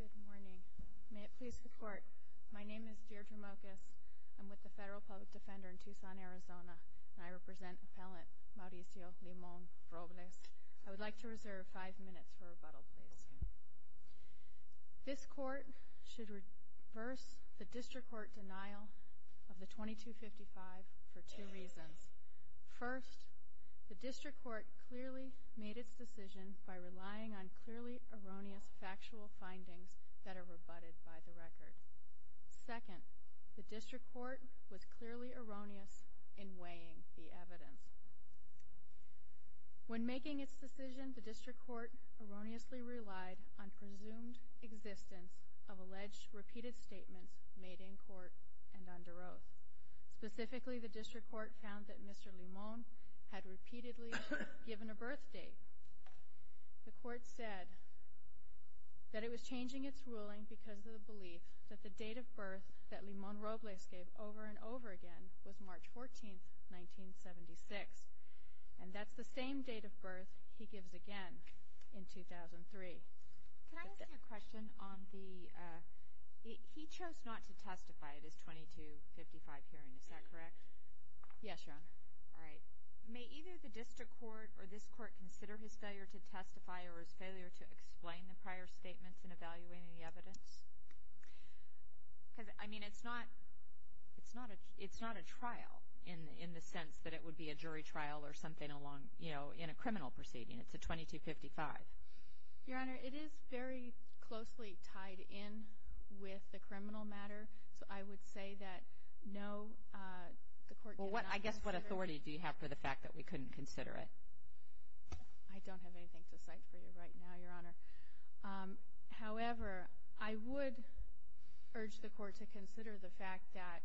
Good morning. May it please the Court, my name is Deirdre Mokas. I'm with the Federal Public Defender in Tucson, Arizona, and I represent Appellant Mauricio Limon-Robles. I would like to reserve five minutes for rebuttal, please. This Court should reverse the District Court denial of the § 2255 for two reasons. First, the District Court clearly made its decision by relying on clearly erroneous factual findings that are rebutted by the record. Second, the District Court was clearly erroneous in weighing the evidence. When making its decision, the District Court erroneously relied on presumed existence of alleged repeated statements made in court and under oath. Specifically, the District Court found that Mr. Limon had repeatedly given a birth date. The Court said that it was changing its ruling because of the belief that the date of birth that Limon-Robles gave over and over again was March 14, 1976. And that's the same date of birth he gives again in 2003. Can I ask you a question on the, he chose not to testify at his § 2255 hearing, is that correct? Yes, Your Honor. All right. May either the District Court or this Court consider his failure to testify or his failure to explain the prior statements in evaluating the evidence? Because, I mean, it's not a trial in the sense that it would be a jury trial or something along, you know, in a criminal proceeding. It's a § 2255. Your Honor, it is very closely tied in with the criminal matter, so I would say that no, the Court did not consider it. Well, I guess what authority do you have for the fact that we couldn't consider it? I don't have anything to cite for you right now, Your Honor. However, I would urge the Court to consider the fact that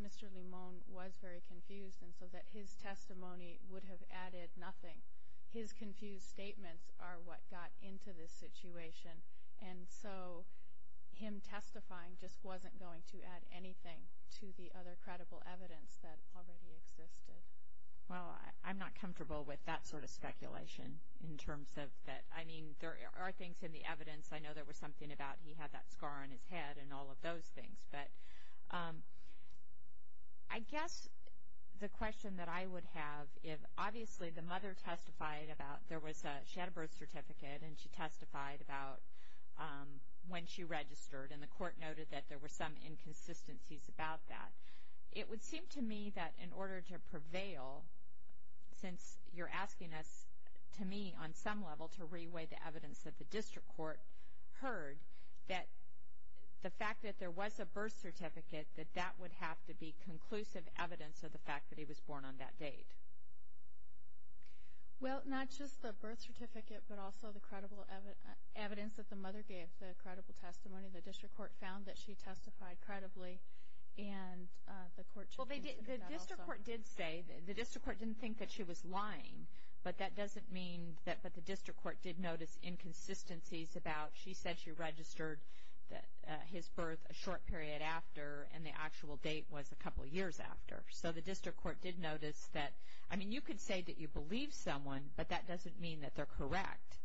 Mr. Limon was very confused and so that his testimony would have added nothing. His confused statements are what got into this situation. And so him testifying just wasn't going to add anything to the other credible evidence that already existed. Well, I'm not comfortable with that sort of speculation in terms of that. I mean, there are things in the evidence. I know there was something about he had that scar on his head and all of those things. But I guess the question that I would have, if obviously the mother testified about there was a – she had a birth certificate and she testified about when she registered and the Court noted that there were some inconsistencies about that. It would seem to me that in order to prevail, since you're asking us, to me, on some level, to reweigh the evidence that the District Court heard, that the fact that there was a birth certificate, that that would have to be conclusive evidence of the fact that he was born on that date. Well, not just the birth certificate, but also the credible evidence that the mother gave, the credible testimony. The District Court found that she testified credibly, and the Court – Well, the District Court did say – the District Court didn't think that she was lying, but that doesn't mean that – but the District Court did notice inconsistencies about – she said she registered his birth a short period after, and the actual date was a couple years after. So the District Court did notice that – I mean, you could say that you believe someone, but that doesn't mean that they're correct.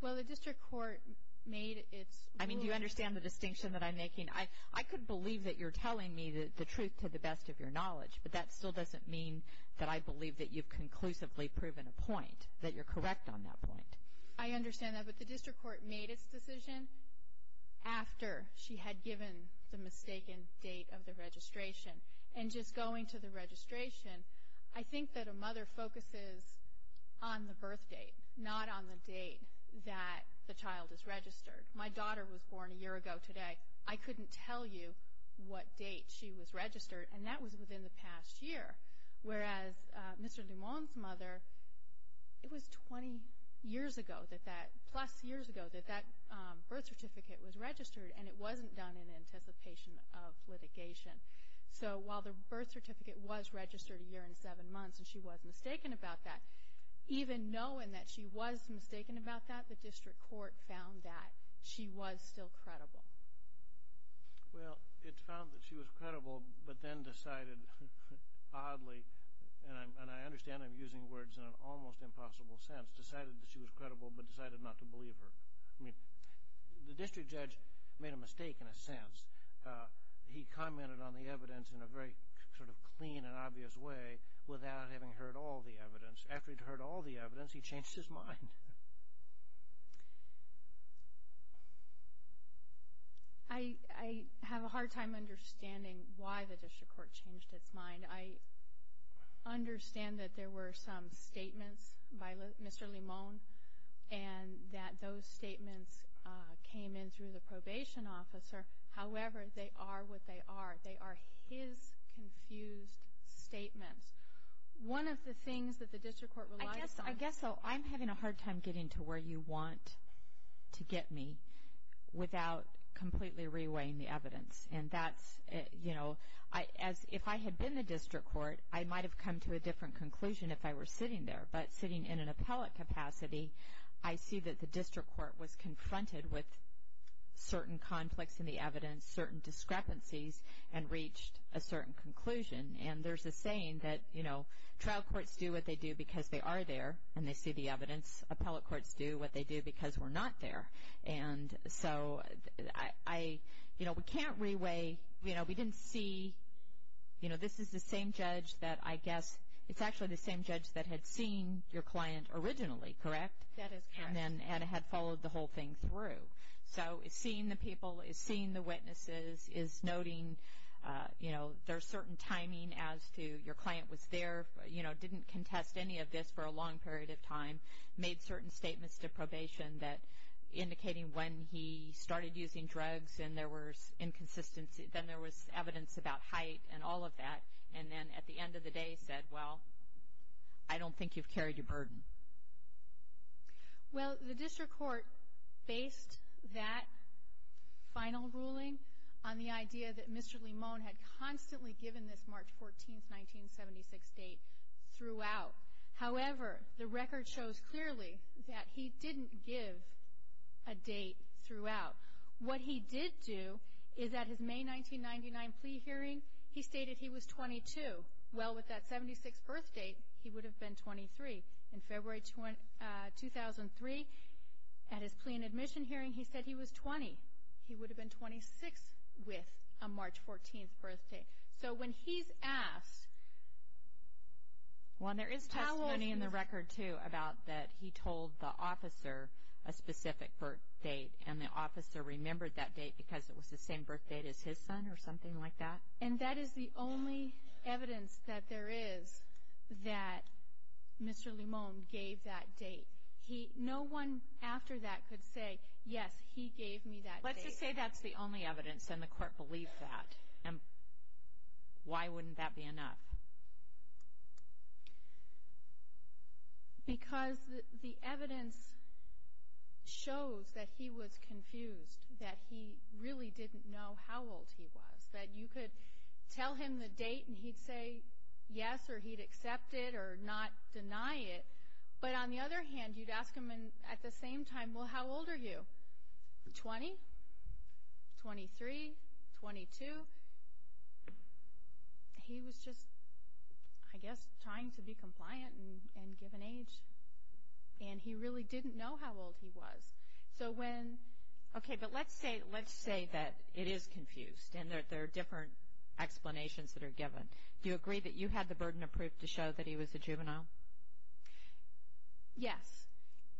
Well, the District Court made its ruling – I mean, do you understand the distinction that I'm making? I could believe that you're telling me the truth to the best of your knowledge, but that still doesn't mean that I believe that you've conclusively proven a point, that you're correct on that point. I understand that, but the District Court made its decision after she had given the mistaken date of the registration. And just going to the registration, I think that a mother focuses on the birth date, not on the date that the child is registered. My daughter was born a year ago today. I couldn't tell you what date she was registered, and that was within the past year. Whereas Mr. Limon's mother, it was 20 years ago that that – plus years ago that that birth certificate was registered, and it wasn't done in anticipation of litigation. So while the birth certificate was registered a year and seven months, and she was mistaken about that, even knowing that she was mistaken about that, the District Court found that she was still credible. Well, it found that she was credible, but then decided oddly – and I understand I'm using words in an almost impossible sense – decided that she was credible, but decided not to believe her. I mean, the District Judge made a mistake in a sense. He commented on the evidence in a very sort of clean and obvious way without having heard all the evidence. After he'd heard all the evidence, he changed his mind. I have a hard time understanding why the District Court changed its mind. I understand that there were some statements by Mr. Limon, and that those statements came in through the probation officer. However, they are what they are. They are his confused statements. One of the things that the District Court relied upon – I guess I'm having a hard time getting to where you want to get me without completely reweighing the evidence. And that's – you know, if I had been in the District Court, I might have come to a different conclusion if I were sitting there. But sitting in an appellate capacity, I see that the District Court was confronted with certain conflicts in the evidence, certain discrepancies, and reached a certain conclusion. And there's a saying that, you know, trial courts do what they do because they are there and they see the evidence. Appellate courts do what they do because we're not there. And so I – you know, we can't reweigh – you know, we didn't see – you know, this is the same judge that I guess – it's actually the same judge that had seen your client originally, correct? That is correct. And then had followed the whole thing through. So it's seeing the people, it's seeing the witnesses, it's noting, you know, there's certain timing as to your client was there, you know, didn't contest any of this for a long period of time, made certain statements to probation that – indicating when he started using drugs and there was inconsistency. Then there was evidence about height and all of that. And then at the end of the day said, well, I don't think you've carried your burden. Well, the district court based that final ruling on the idea that Mr. Limon had constantly given this March 14, 1976 date throughout. However, the record shows clearly that he didn't give a date throughout. What he did do is at his May 1999 plea hearing, he stated he was 22. Well, with that 76th birth date, he would have been 23. In February 2003, at his plea and admission hearing, he said he was 20. He would have been 26 with a March 14th birth date. So when he's asked – Well, there is testimony in the record, too, about that he told the officer a specific birth date and the officer remembered that date because it was the same birth date as his son or something like that. And that is the only evidence that there is that Mr. Limon gave that date. No one after that could say, yes, he gave me that date. Let's just say that's the only evidence and the court believed that. Why wouldn't that be enough? Because the evidence shows that he was confused, that he really didn't know how old he was, that you could tell him the date and he'd say yes or he'd accept it or not deny it. But on the other hand, you'd ask him at the same time, well, how old are you? 20? 23? 22? He was just, I guess, trying to be compliant and give an age. And he really didn't know how old he was. Okay, but let's say that it is confused and there are different explanations that are given. Do you agree that you had the burden of proof to show that he was a juvenile? Yes.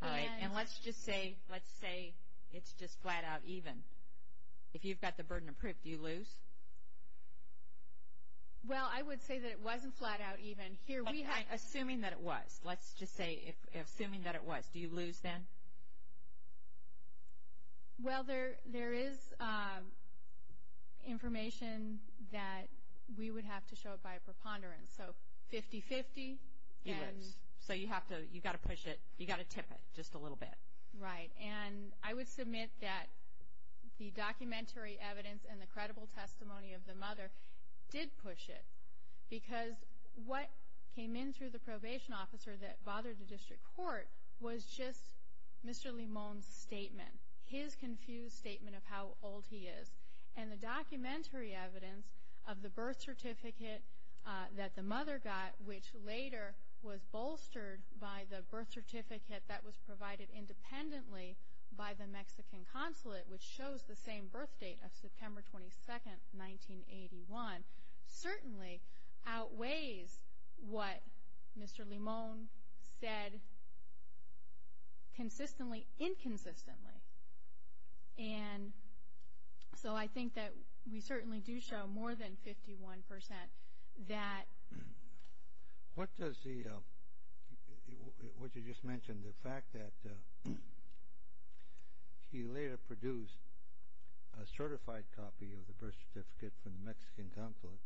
All right, and let's just say it's just flat-out even. If you've got the burden of proof, do you lose? Well, I would say that it wasn't flat-out even. Assuming that it was, let's just say, assuming that it was, do you lose then? Well, there is information that we would have to show it by a preponderance. So 50-50. You lose. So you've got to push it. You've got to tip it just a little bit. Right. And I would submit that the documentary evidence and the credible testimony of the mother did push it because what came in through the probation officer that bothered the district court was just Mr. Limon's statement, his confused statement of how old he is. And the documentary evidence of the birth certificate that the mother got, which later was bolstered by the birth certificate that was provided independently by the Mexican consulate, which shows the same birth date of September 22nd, 1981, certainly outweighs what Mr. Limon said consistently, inconsistently. And so I think that we certainly do show more than 51% that. What does the, what you just mentioned, the fact that he later produced a certified copy of the birth certificate from the Mexican consulate,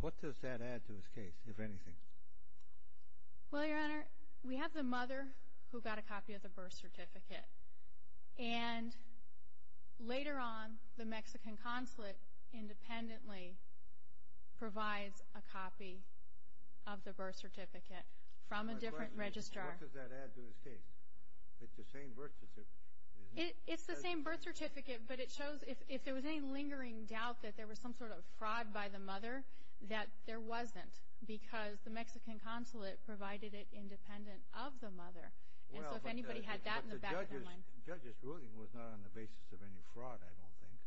what does that add to his case, if anything? Well, Your Honor, we have the mother who got a copy of the birth certificate, and later on the Mexican consulate independently provides a copy of the birth certificate from a different registrar. What does that add to his case? It's the same birth certificate, isn't it? It's the same birth certificate, but it shows if there was any lingering doubt that there was some sort of fraud by the mother, that there wasn't because the Mexican consulate provided it independent of the mother. And so if anybody had that in the back of their mind. But the judge's ruling was not on the basis of any fraud, I don't think.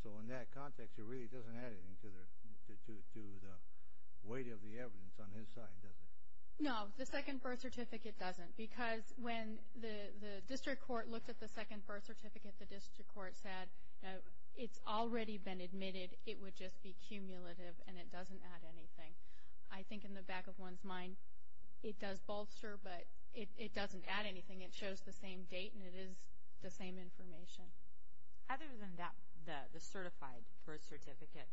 So in that context, it really doesn't add anything to the weight of the evidence on his side, does it? No, the second birth certificate doesn't, because when the district court looked at the second birth certificate, the district court said it's already been admitted, it would just be cumulative, and it doesn't add anything. I think in the back of one's mind, it does bolster, but it doesn't add anything. It shows the same date, and it is the same information. Other than that, the certified birth certificate,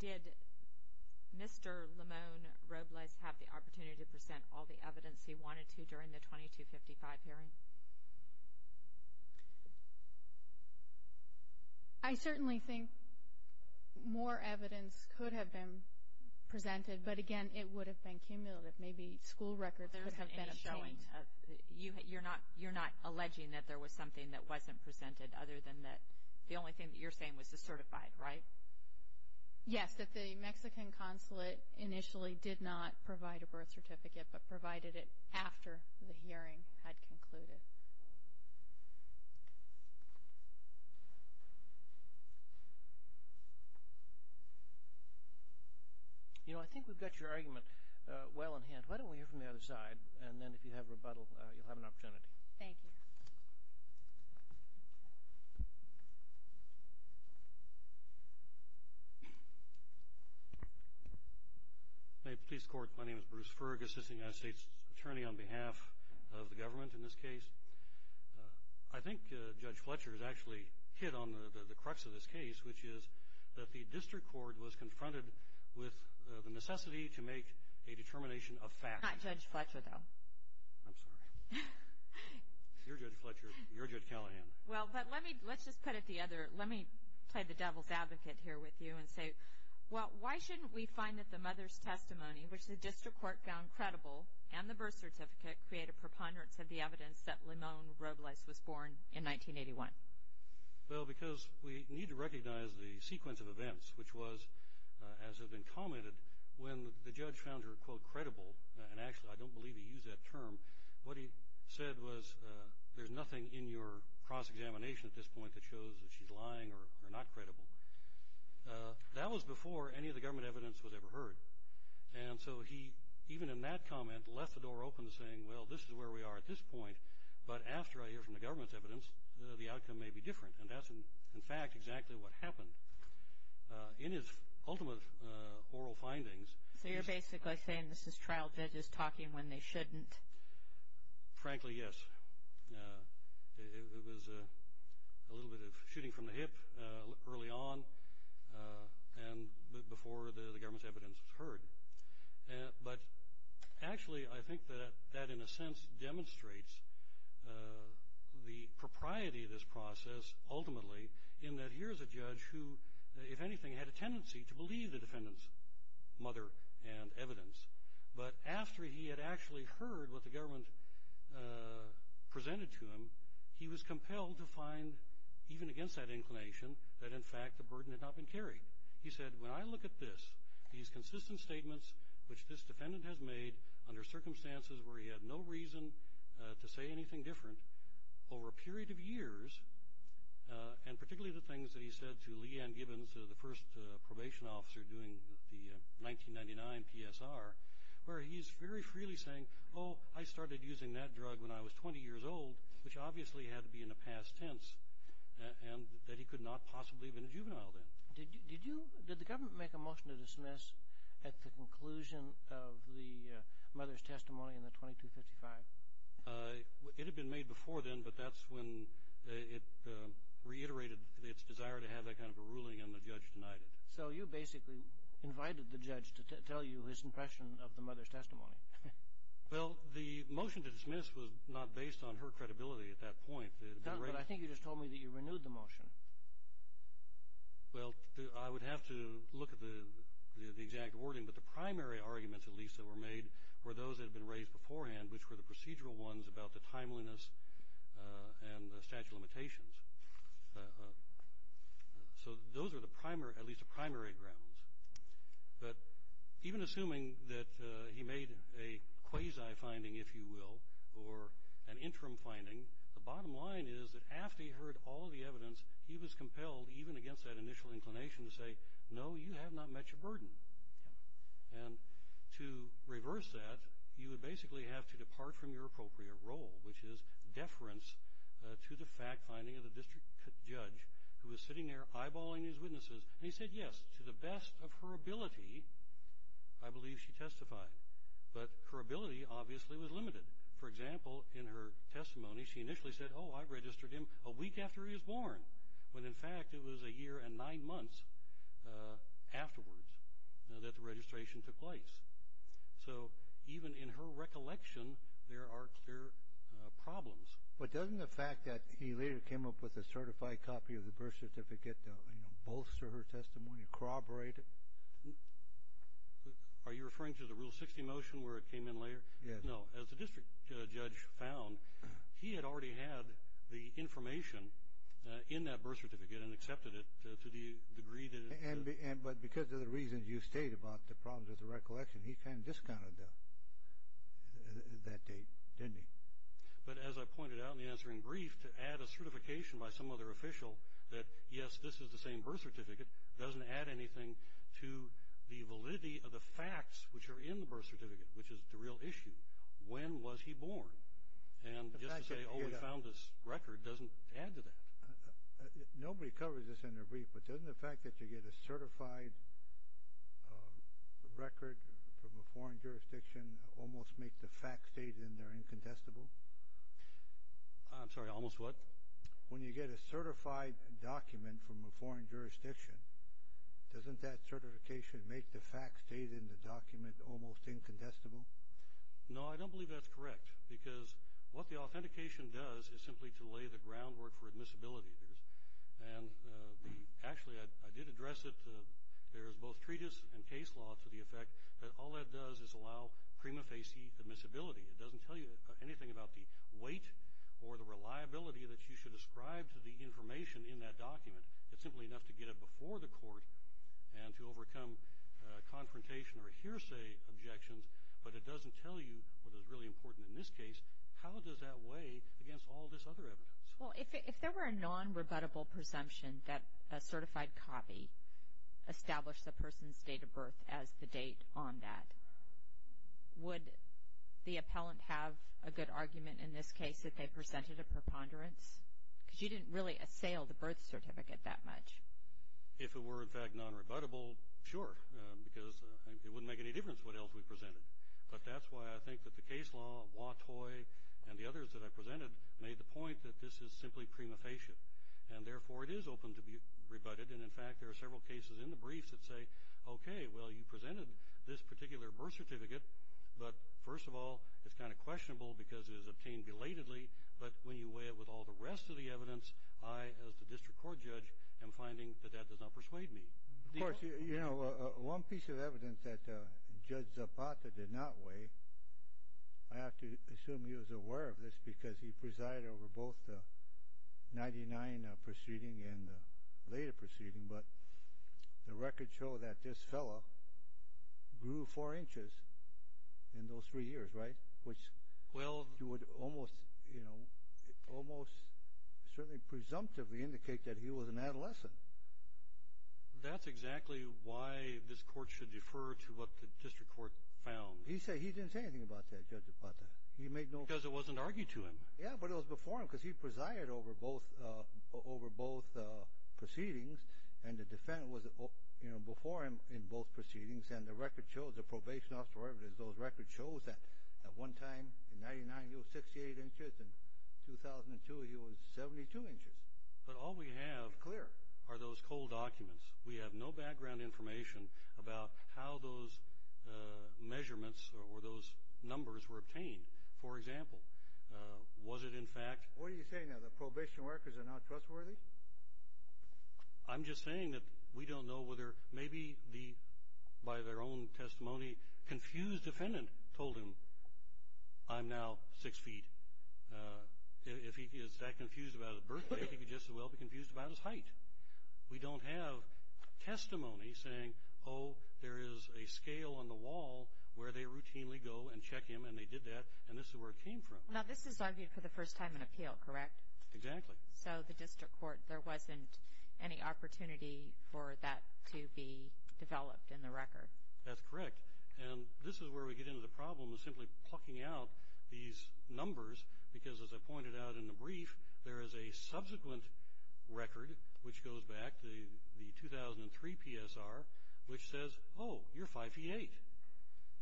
did Mr. Limon Robles have the opportunity to present all the evidence he wanted to during the 2255 hearing? I certainly think more evidence could have been presented, but again, it would have been cumulative. Maybe school records could have been obtained. You're not alleging that there was something that wasn't presented, other than that the only thing that you're saying was the certified, right? Yes, that the Mexican consulate initially did not provide a birth certificate, but provided it after the hearing had concluded. You know, I think we've got your argument well in hand. Why don't we hear from the other side, and then if you have rebuttal, you'll have an opportunity. Thank you. May it please the Court, my name is Bruce Fergus. This is the United States Attorney on behalf of the government in this case. I think Judge Fletcher has actually hit on the crux of this case, which is that the district court was confronted with the necessity to make a determination of facts. Not Judge Fletcher, though. I'm sorry. You're Judge Fletcher. You're Judge Callahan. Well, but let me, let's just put it the other, let me play the devil's advocate here with you and say, well, why shouldn't we find that the mother's testimony, which the district court found credible, and the birth certificate create a preponderance of the evidence that Limone Robles was born in 1981? Well, because we need to recognize the sequence of events, which was, as has been commented, when the judge found her, quote, credible, and actually I don't believe he used that term, what he said was there's nothing in your cross-examination at this point that shows that she's lying or not credible. That was before any of the government evidence was ever heard. And so he, even in that comment, left the door open to saying, well, this is where we are at this point, but after I hear from the government's evidence, the outcome may be different. And that's, in fact, exactly what happened. In his ultimate oral findings. So you're basically saying this is trial judges talking when they shouldn't. Frankly, yes. It was a little bit of shooting from the hip early on and before the government's evidence was heard. But actually, I think that that, in a sense, demonstrates the propriety of this process, ultimately, in that here's a judge who, if anything, had a tendency to believe the defendant's mother and evidence. But after he had actually heard what the government presented to him, he was compelled to find, even against that inclination, that, in fact, the burden had not been carried. He said, when I look at this, these consistent statements which this defendant has made under circumstances where he had no reason to say anything different over a period of years, and particularly the things that he said to Lee Ann Gibbons, the first probation officer doing the 1999 PSR, where he's very freely saying, oh, I started using that drug when I was 20 years old, which obviously had to be in the past tense, and that he could not possibly have been a juvenile then. Did the government make a motion to dismiss at the conclusion of the mother's testimony in the 2255? It had been made before then, but that's when it reiterated its desire to have that kind of a ruling, and the judge denied it. So you basically invited the judge to tell you his impression of the mother's testimony. Well, the motion to dismiss was not based on her credibility at that point. But I think you just told me that you renewed the motion. Well, I would have to look at the exact wording, but the primary arguments at least that were made were those that had been raised beforehand, which were the procedural ones about the timeliness and the statute of limitations. So those are at least the primary grounds. But even assuming that he made a quasi finding, if you will, or an interim finding, the bottom line is that after he heard all the evidence, he was compelled, even against that initial inclination, to say, no, you have not met your burden. And to reverse that, you would basically have to depart from your appropriate role, which is deference to the fact-finding of the district judge, who was sitting there eyeballing his witnesses. And he said yes, to the best of her ability, I believe she testified. But her ability obviously was limited. For example, in her testimony, she initially said, oh, I registered him a week after he was born, when in fact it was a year and nine months afterwards that the registration took place. So even in her recollection, there are clear problems. But doesn't the fact that he later came up with a certified copy of the birth certificate bolster her testimony, corroborate it? Are you referring to the Rule 60 motion where it came in later? No. As the district judge found, he had already had the information in that birth certificate and accepted it to the degree that it was there. But because of the reasons you state about the problems with the recollection, he kind of discounted that date, didn't he? But as I pointed out in the answering brief, to add a certification by some other official that, yes, this is the same birth certificate doesn't add anything to the validity of the facts which are in the birth certificate, which is the real issue. When was he born? And just to say, oh, we found this record, doesn't add to that. Nobody covers this in their brief, but doesn't the fact that you get a certified record from a foreign jurisdiction almost make the facts stated in there incontestable? I'm sorry, almost what? When you get a certified document from a foreign jurisdiction, doesn't that certification make the facts stated in the document almost incontestable? No, I don't believe that's correct, because what the authentication does is simply to lay the groundwork for admissibility. And actually, I did address it. There is both treatise and case law to the effect that all that does is allow prima facie admissibility. It doesn't tell you anything about the weight or the reliability that you should ascribe to the information in that document. It's simply enough to get it before the court and to overcome confrontation or hearsay objections, but it doesn't tell you what is really important in this case. How does that weigh against all this other evidence? Well, if there were a non-rebuttable presumption that a certified copy established a person's date of birth as the date on that, would the appellant have a good argument in this case that they presented a preponderance? Because you didn't really assail the birth certificate that much. If it were, in fact, non-rebuttable, sure, because it wouldn't make any difference what else we presented. But that's why I think that the case law, Watteau, and the others that I presented made the point that this is simply prima facie, and therefore it is open to be rebutted. And, in fact, there are several cases in the briefs that say, okay, well, you presented this particular birth certificate, but first of all, it's kind of questionable because it was obtained belatedly, but when you weigh it with all the rest of the evidence, I, as the district court judge, am finding that that does not persuade me. Of course, you know, one piece of evidence that Judge Zapata did not weigh, I have to assume he was aware of this because he presided over both the 1999 proceeding and the later proceeding, but the records show that this fellow grew four inches in those three years, right, which you would almost, you know, almost certainly presumptively indicate that he was an adolescent. That's exactly why this court should defer to what the district court found. He didn't say anything about that, Judge Zapata. Because it wasn't argued to him. Yeah, but it was before him because he presided over both proceedings, and the defendant was before him in both proceedings, and the record shows, the probation officers, those records show that at one time in 1999 he was 68 inches, and in 2002 he was 72 inches. But all we have are those cold documents. We have no background information about how those measurements or those numbers were obtained. For example, was it in fact – What are you saying now? The probation workers are not trustworthy? I'm just saying that we don't know whether maybe the, by their own testimony, confused defendant told him, I'm now six feet. If he is that confused about his birth weight, he could just as well be confused about his height. We don't have testimony saying, oh, there is a scale on the wall where they routinely go and check him, and they did that, and this is where it came from. Now, this is argued for the first time in appeal, correct? Exactly. So the district court, there wasn't any opportunity for that to be developed in the record. That's correct. And this is where we get into the problem of simply plucking out these numbers, because as I pointed out in the brief, there is a subsequent record, which goes back to the 2003 PSR, which says, oh, you're five feet eight.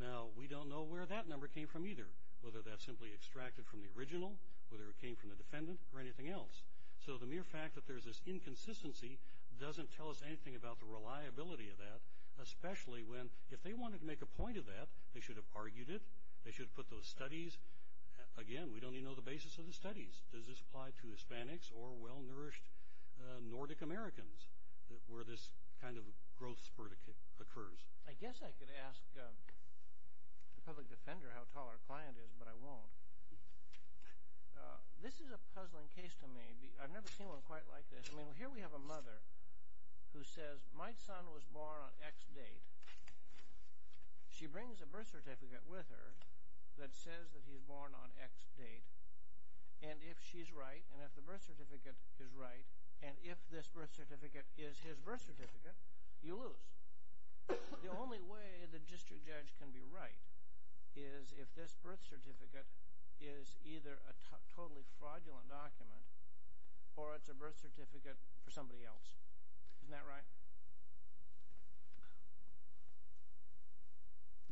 Now, we don't know where that number came from either, whether that's simply extracted from the original, whether it came from the defendant, or anything else. So the mere fact that there's this inconsistency doesn't tell us anything about the reliability of that, especially when if they wanted to make a point of that, they should have argued it. They should have put those studies. Again, we don't even know the basis of the studies. Does this apply to Hispanics or well-nourished Nordic Americans where this kind of growth spurt occurs? I guess I could ask the public defender how tall our client is, but I won't. This is a puzzling case to me. I've never seen one quite like this. I mean, here we have a mother who says, my son was born on X date. She brings a birth certificate with her that says that he's born on X date. And if she's right, and if the birth certificate is right, and if this birth certificate is his birth certificate, you lose. The only way the district judge can be right is if this birth certificate is either a totally fraudulent document or it's a birth certificate for somebody else. Isn't that right?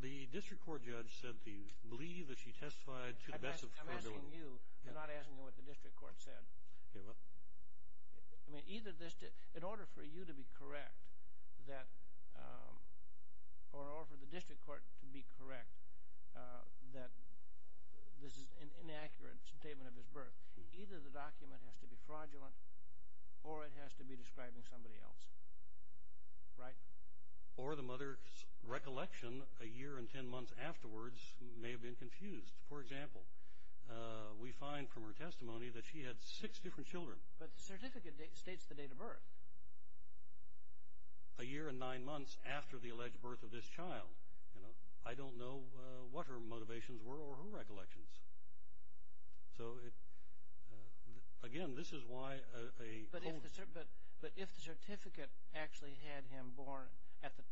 The district court judge said that he believed that she testified to the best of her ability. I'm asking you. I'm not asking you what the district court said. Okay, well. I mean, in order for you to be correct or for the district court to be correct that this is an inaccurate statement of his birth, either the document has to be fraudulent or it has to be describing somebody else. Right? Or the mother's recollection a year and ten months afterwards may have been confused. For example, we find from her testimony that she had six different children. But the certificate states the date of birth. A year and nine months after the alleged birth of this child. I don't know what her motivations were or her recollections. So, again, this is why a. But if the certificate actually had him born at the.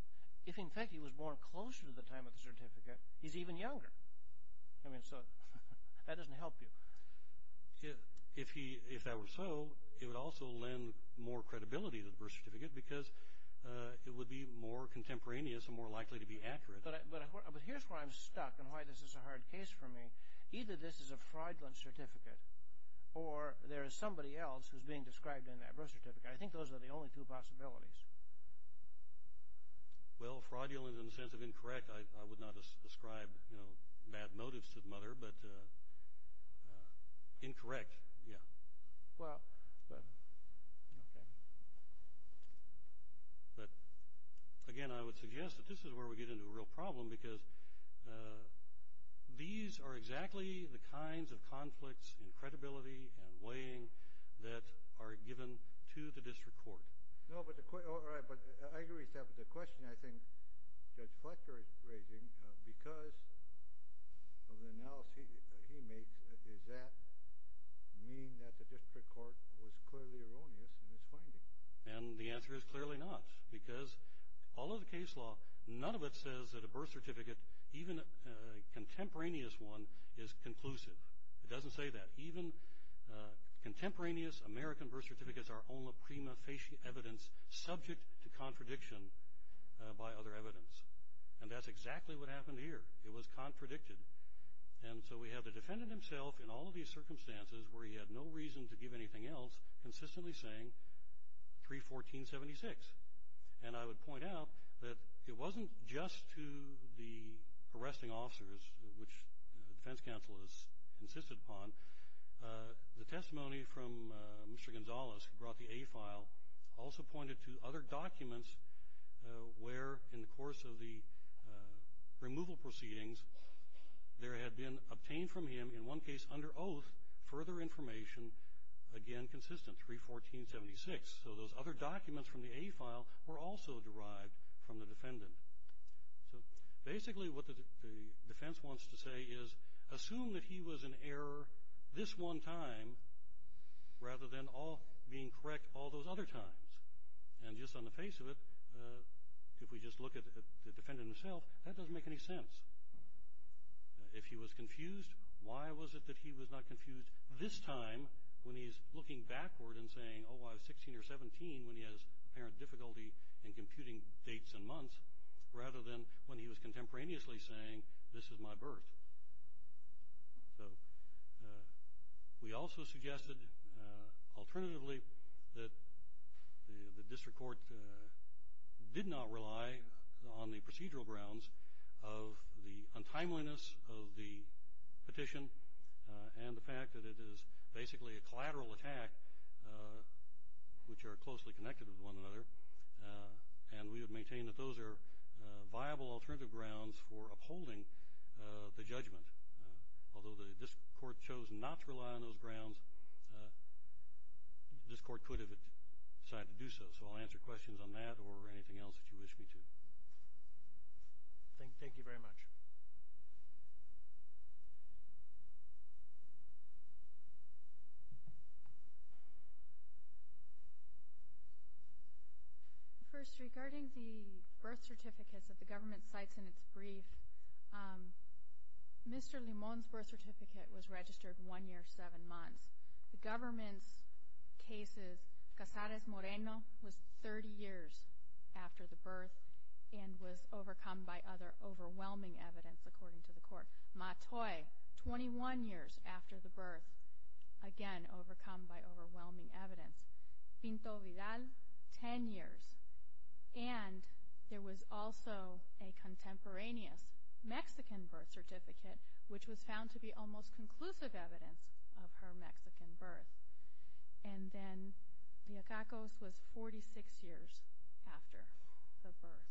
If, in fact, he was born closer to the time of the certificate, he's even younger. I mean, so that doesn't help you. If that were so, it would also lend more credibility to the birth certificate because it would be more contemporaneous and more likely to be accurate. But here's where I'm stuck and why this is a hard case for me. Either this is a fraudulent certificate or there is somebody else who's being described in that birth certificate. I think those are the only two possibilities. Well, fraudulent in the sense of incorrect. I would not ascribe bad motives to the mother, but incorrect, yeah. Well, okay. But, again, I would suggest that this is where we get into a real problem because these are exactly the kinds of conflicts in credibility and weighing that are given to the district court. No, but the. All right, but I agree with that, but the question I think Judge Fletcher is raising because of the analysis he makes, does that mean that the district court was clearly erroneous in its finding? And the answer is clearly not because all of the case law, none of it says that a birth certificate, even a contemporaneous one, is conclusive. It doesn't say that. Even contemporaneous American birth certificates are only prima facie evidence subject to contradiction by other evidence. And that's exactly what happened here. It was contradicted. And so we have the defendant himself in all of these circumstances where he had no reason to give anything else, consistently saying 3-14-76. And I would point out that it wasn't just to the arresting officers, which the defense counsel has insisted upon. The testimony from Mr. Gonzales, who brought the A file, also pointed to other documents where, in the course of the removal proceedings, there had been obtained from him, in one case under oath, further information, again consistent, 3-14-76. So those other documents from the A file were also derived from the defendant. So basically what the defense wants to say is assume that he was in error this one time rather than being correct all those other times. And just on the face of it, if we just look at the defendant himself, that doesn't make any sense. If he was confused, why was it that he was not confused this time when he's looking backward and saying, oh, I was 16 or 17 when he has apparent difficulty in computing dates and months, rather than when he was contemporaneously saying, this is my birth. So we also suggested alternatively that the district court did not rely on the procedural grounds of the untimeliness of the petition and the fact that it is basically a collateral attack, which are closely connected with one another. And we would maintain that those are viable alternative grounds for upholding the judgment. Although this court chose not to rely on those grounds, this court could have decided to do so. So I'll answer questions on that or anything else that you wish me to. Thank you very much. First, regarding the birth certificates that the government cites in its brief, Mr. Limon's birth certificate was registered one year, seven months. The government's cases, Cazares-Moreno was 30 years after the birth and was overcome by other overwhelming evidence, according to the court. Matoy, 21 years after the birth, again overcome by overwhelming evidence. Pinto-Vidal, 10 years. And there was also a contemporaneous Mexican birth certificate, which was found to be almost conclusive evidence of her Mexican birth. And then, Leacacos was 46 years after the birth.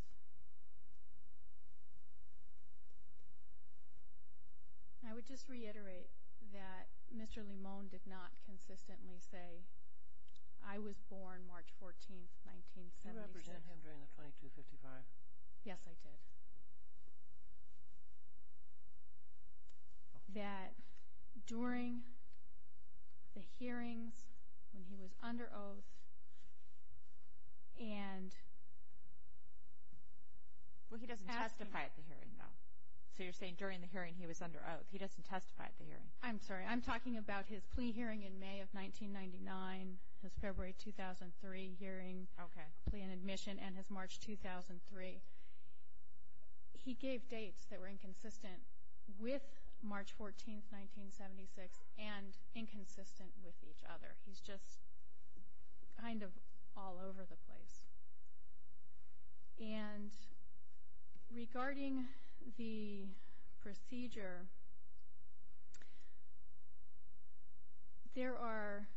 I would just reiterate that Mr. Limon did not consistently say, I was born March 14th, 1976. You represented him during the 2255. Yes, I did. That during the hearings, when he was under oath, and asked him. Well, he doesn't testify at the hearing, though. So you're saying during the hearing he was under oath. He doesn't testify at the hearing. I'm sorry. I'm talking about his plea hearing in May of 1999, his February 2003 hearing. Okay. Plea and admission and his March 2003. He gave dates that were inconsistent with March 14th, 1976, and inconsistent with each other. He's just kind of all over the place. And regarding the procedure, there are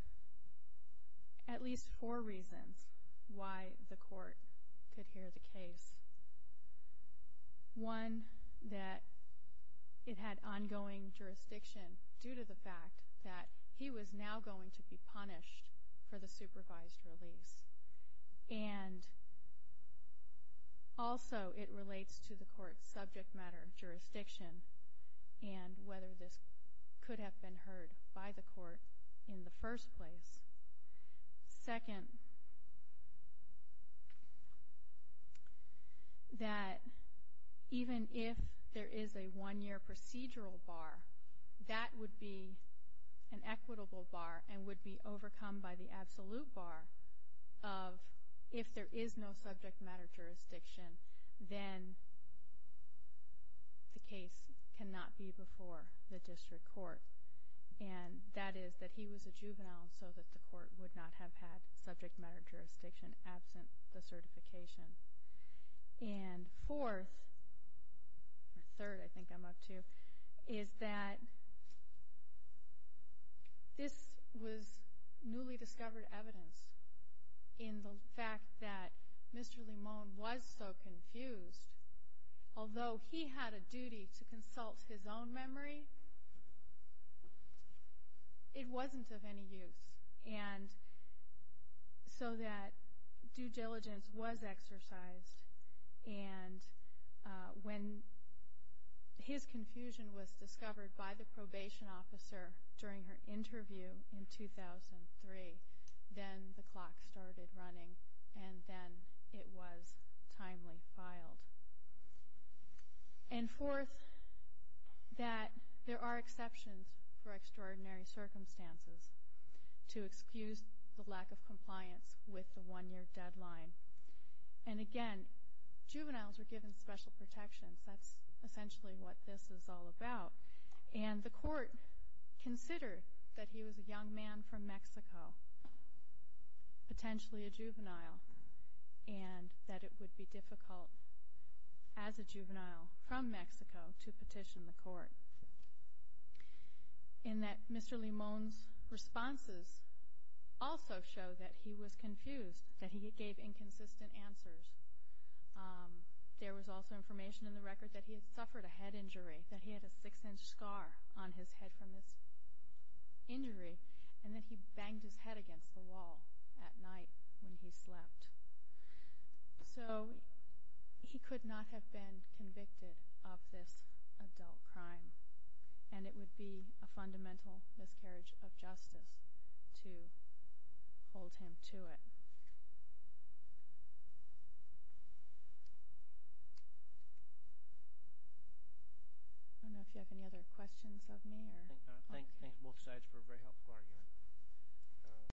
at least four reasons why the court could hear the case. One, that it had ongoing jurisdiction due to the fact that he was now going to be punished for the supervised release. And also, it relates to the court's subject matter jurisdiction and whether this could have been heard by the court in the first place. Second, that even if there is a one-year procedural bar, that would be an equitable bar and would be overcome by the absolute bar of if there is no subject matter jurisdiction, then the case cannot be before the district court. And that is that he was a juvenile, so that the court would not have had subject matter jurisdiction absent the certification. And fourth, or third I think I'm up to, is that this was newly discovered evidence in the fact that Mr. Limon was so confused. Although he had a duty to consult his own memory, it wasn't of any use. And so that due diligence was exercised. And when his confusion was discovered by the probation officer during her interview in 2003, then the clock started running and then it was timely filed. And fourth, that there are exceptions for extraordinary circumstances to excuse the lack of compliance with the one-year deadline. And again, juveniles were given special protections. That's essentially what this is all about. And the court considered that he was a young man from Mexico, potentially a juvenile, and that it would be difficult as a juvenile from Mexico to petition the court. And that Mr. Limon's responses also show that he was confused, that he gave inconsistent answers. There was also information in the record that he had suffered a head injury, that he had a six-inch scar on his head from his injury, and that he banged his head against the wall at night when he slept. So he could not have been convicted of this adult crime. And it would be a fundamental miscarriage of justice to hold him to it. I don't know if you have any other questions of me. Thank you both sides for a very helpful argument.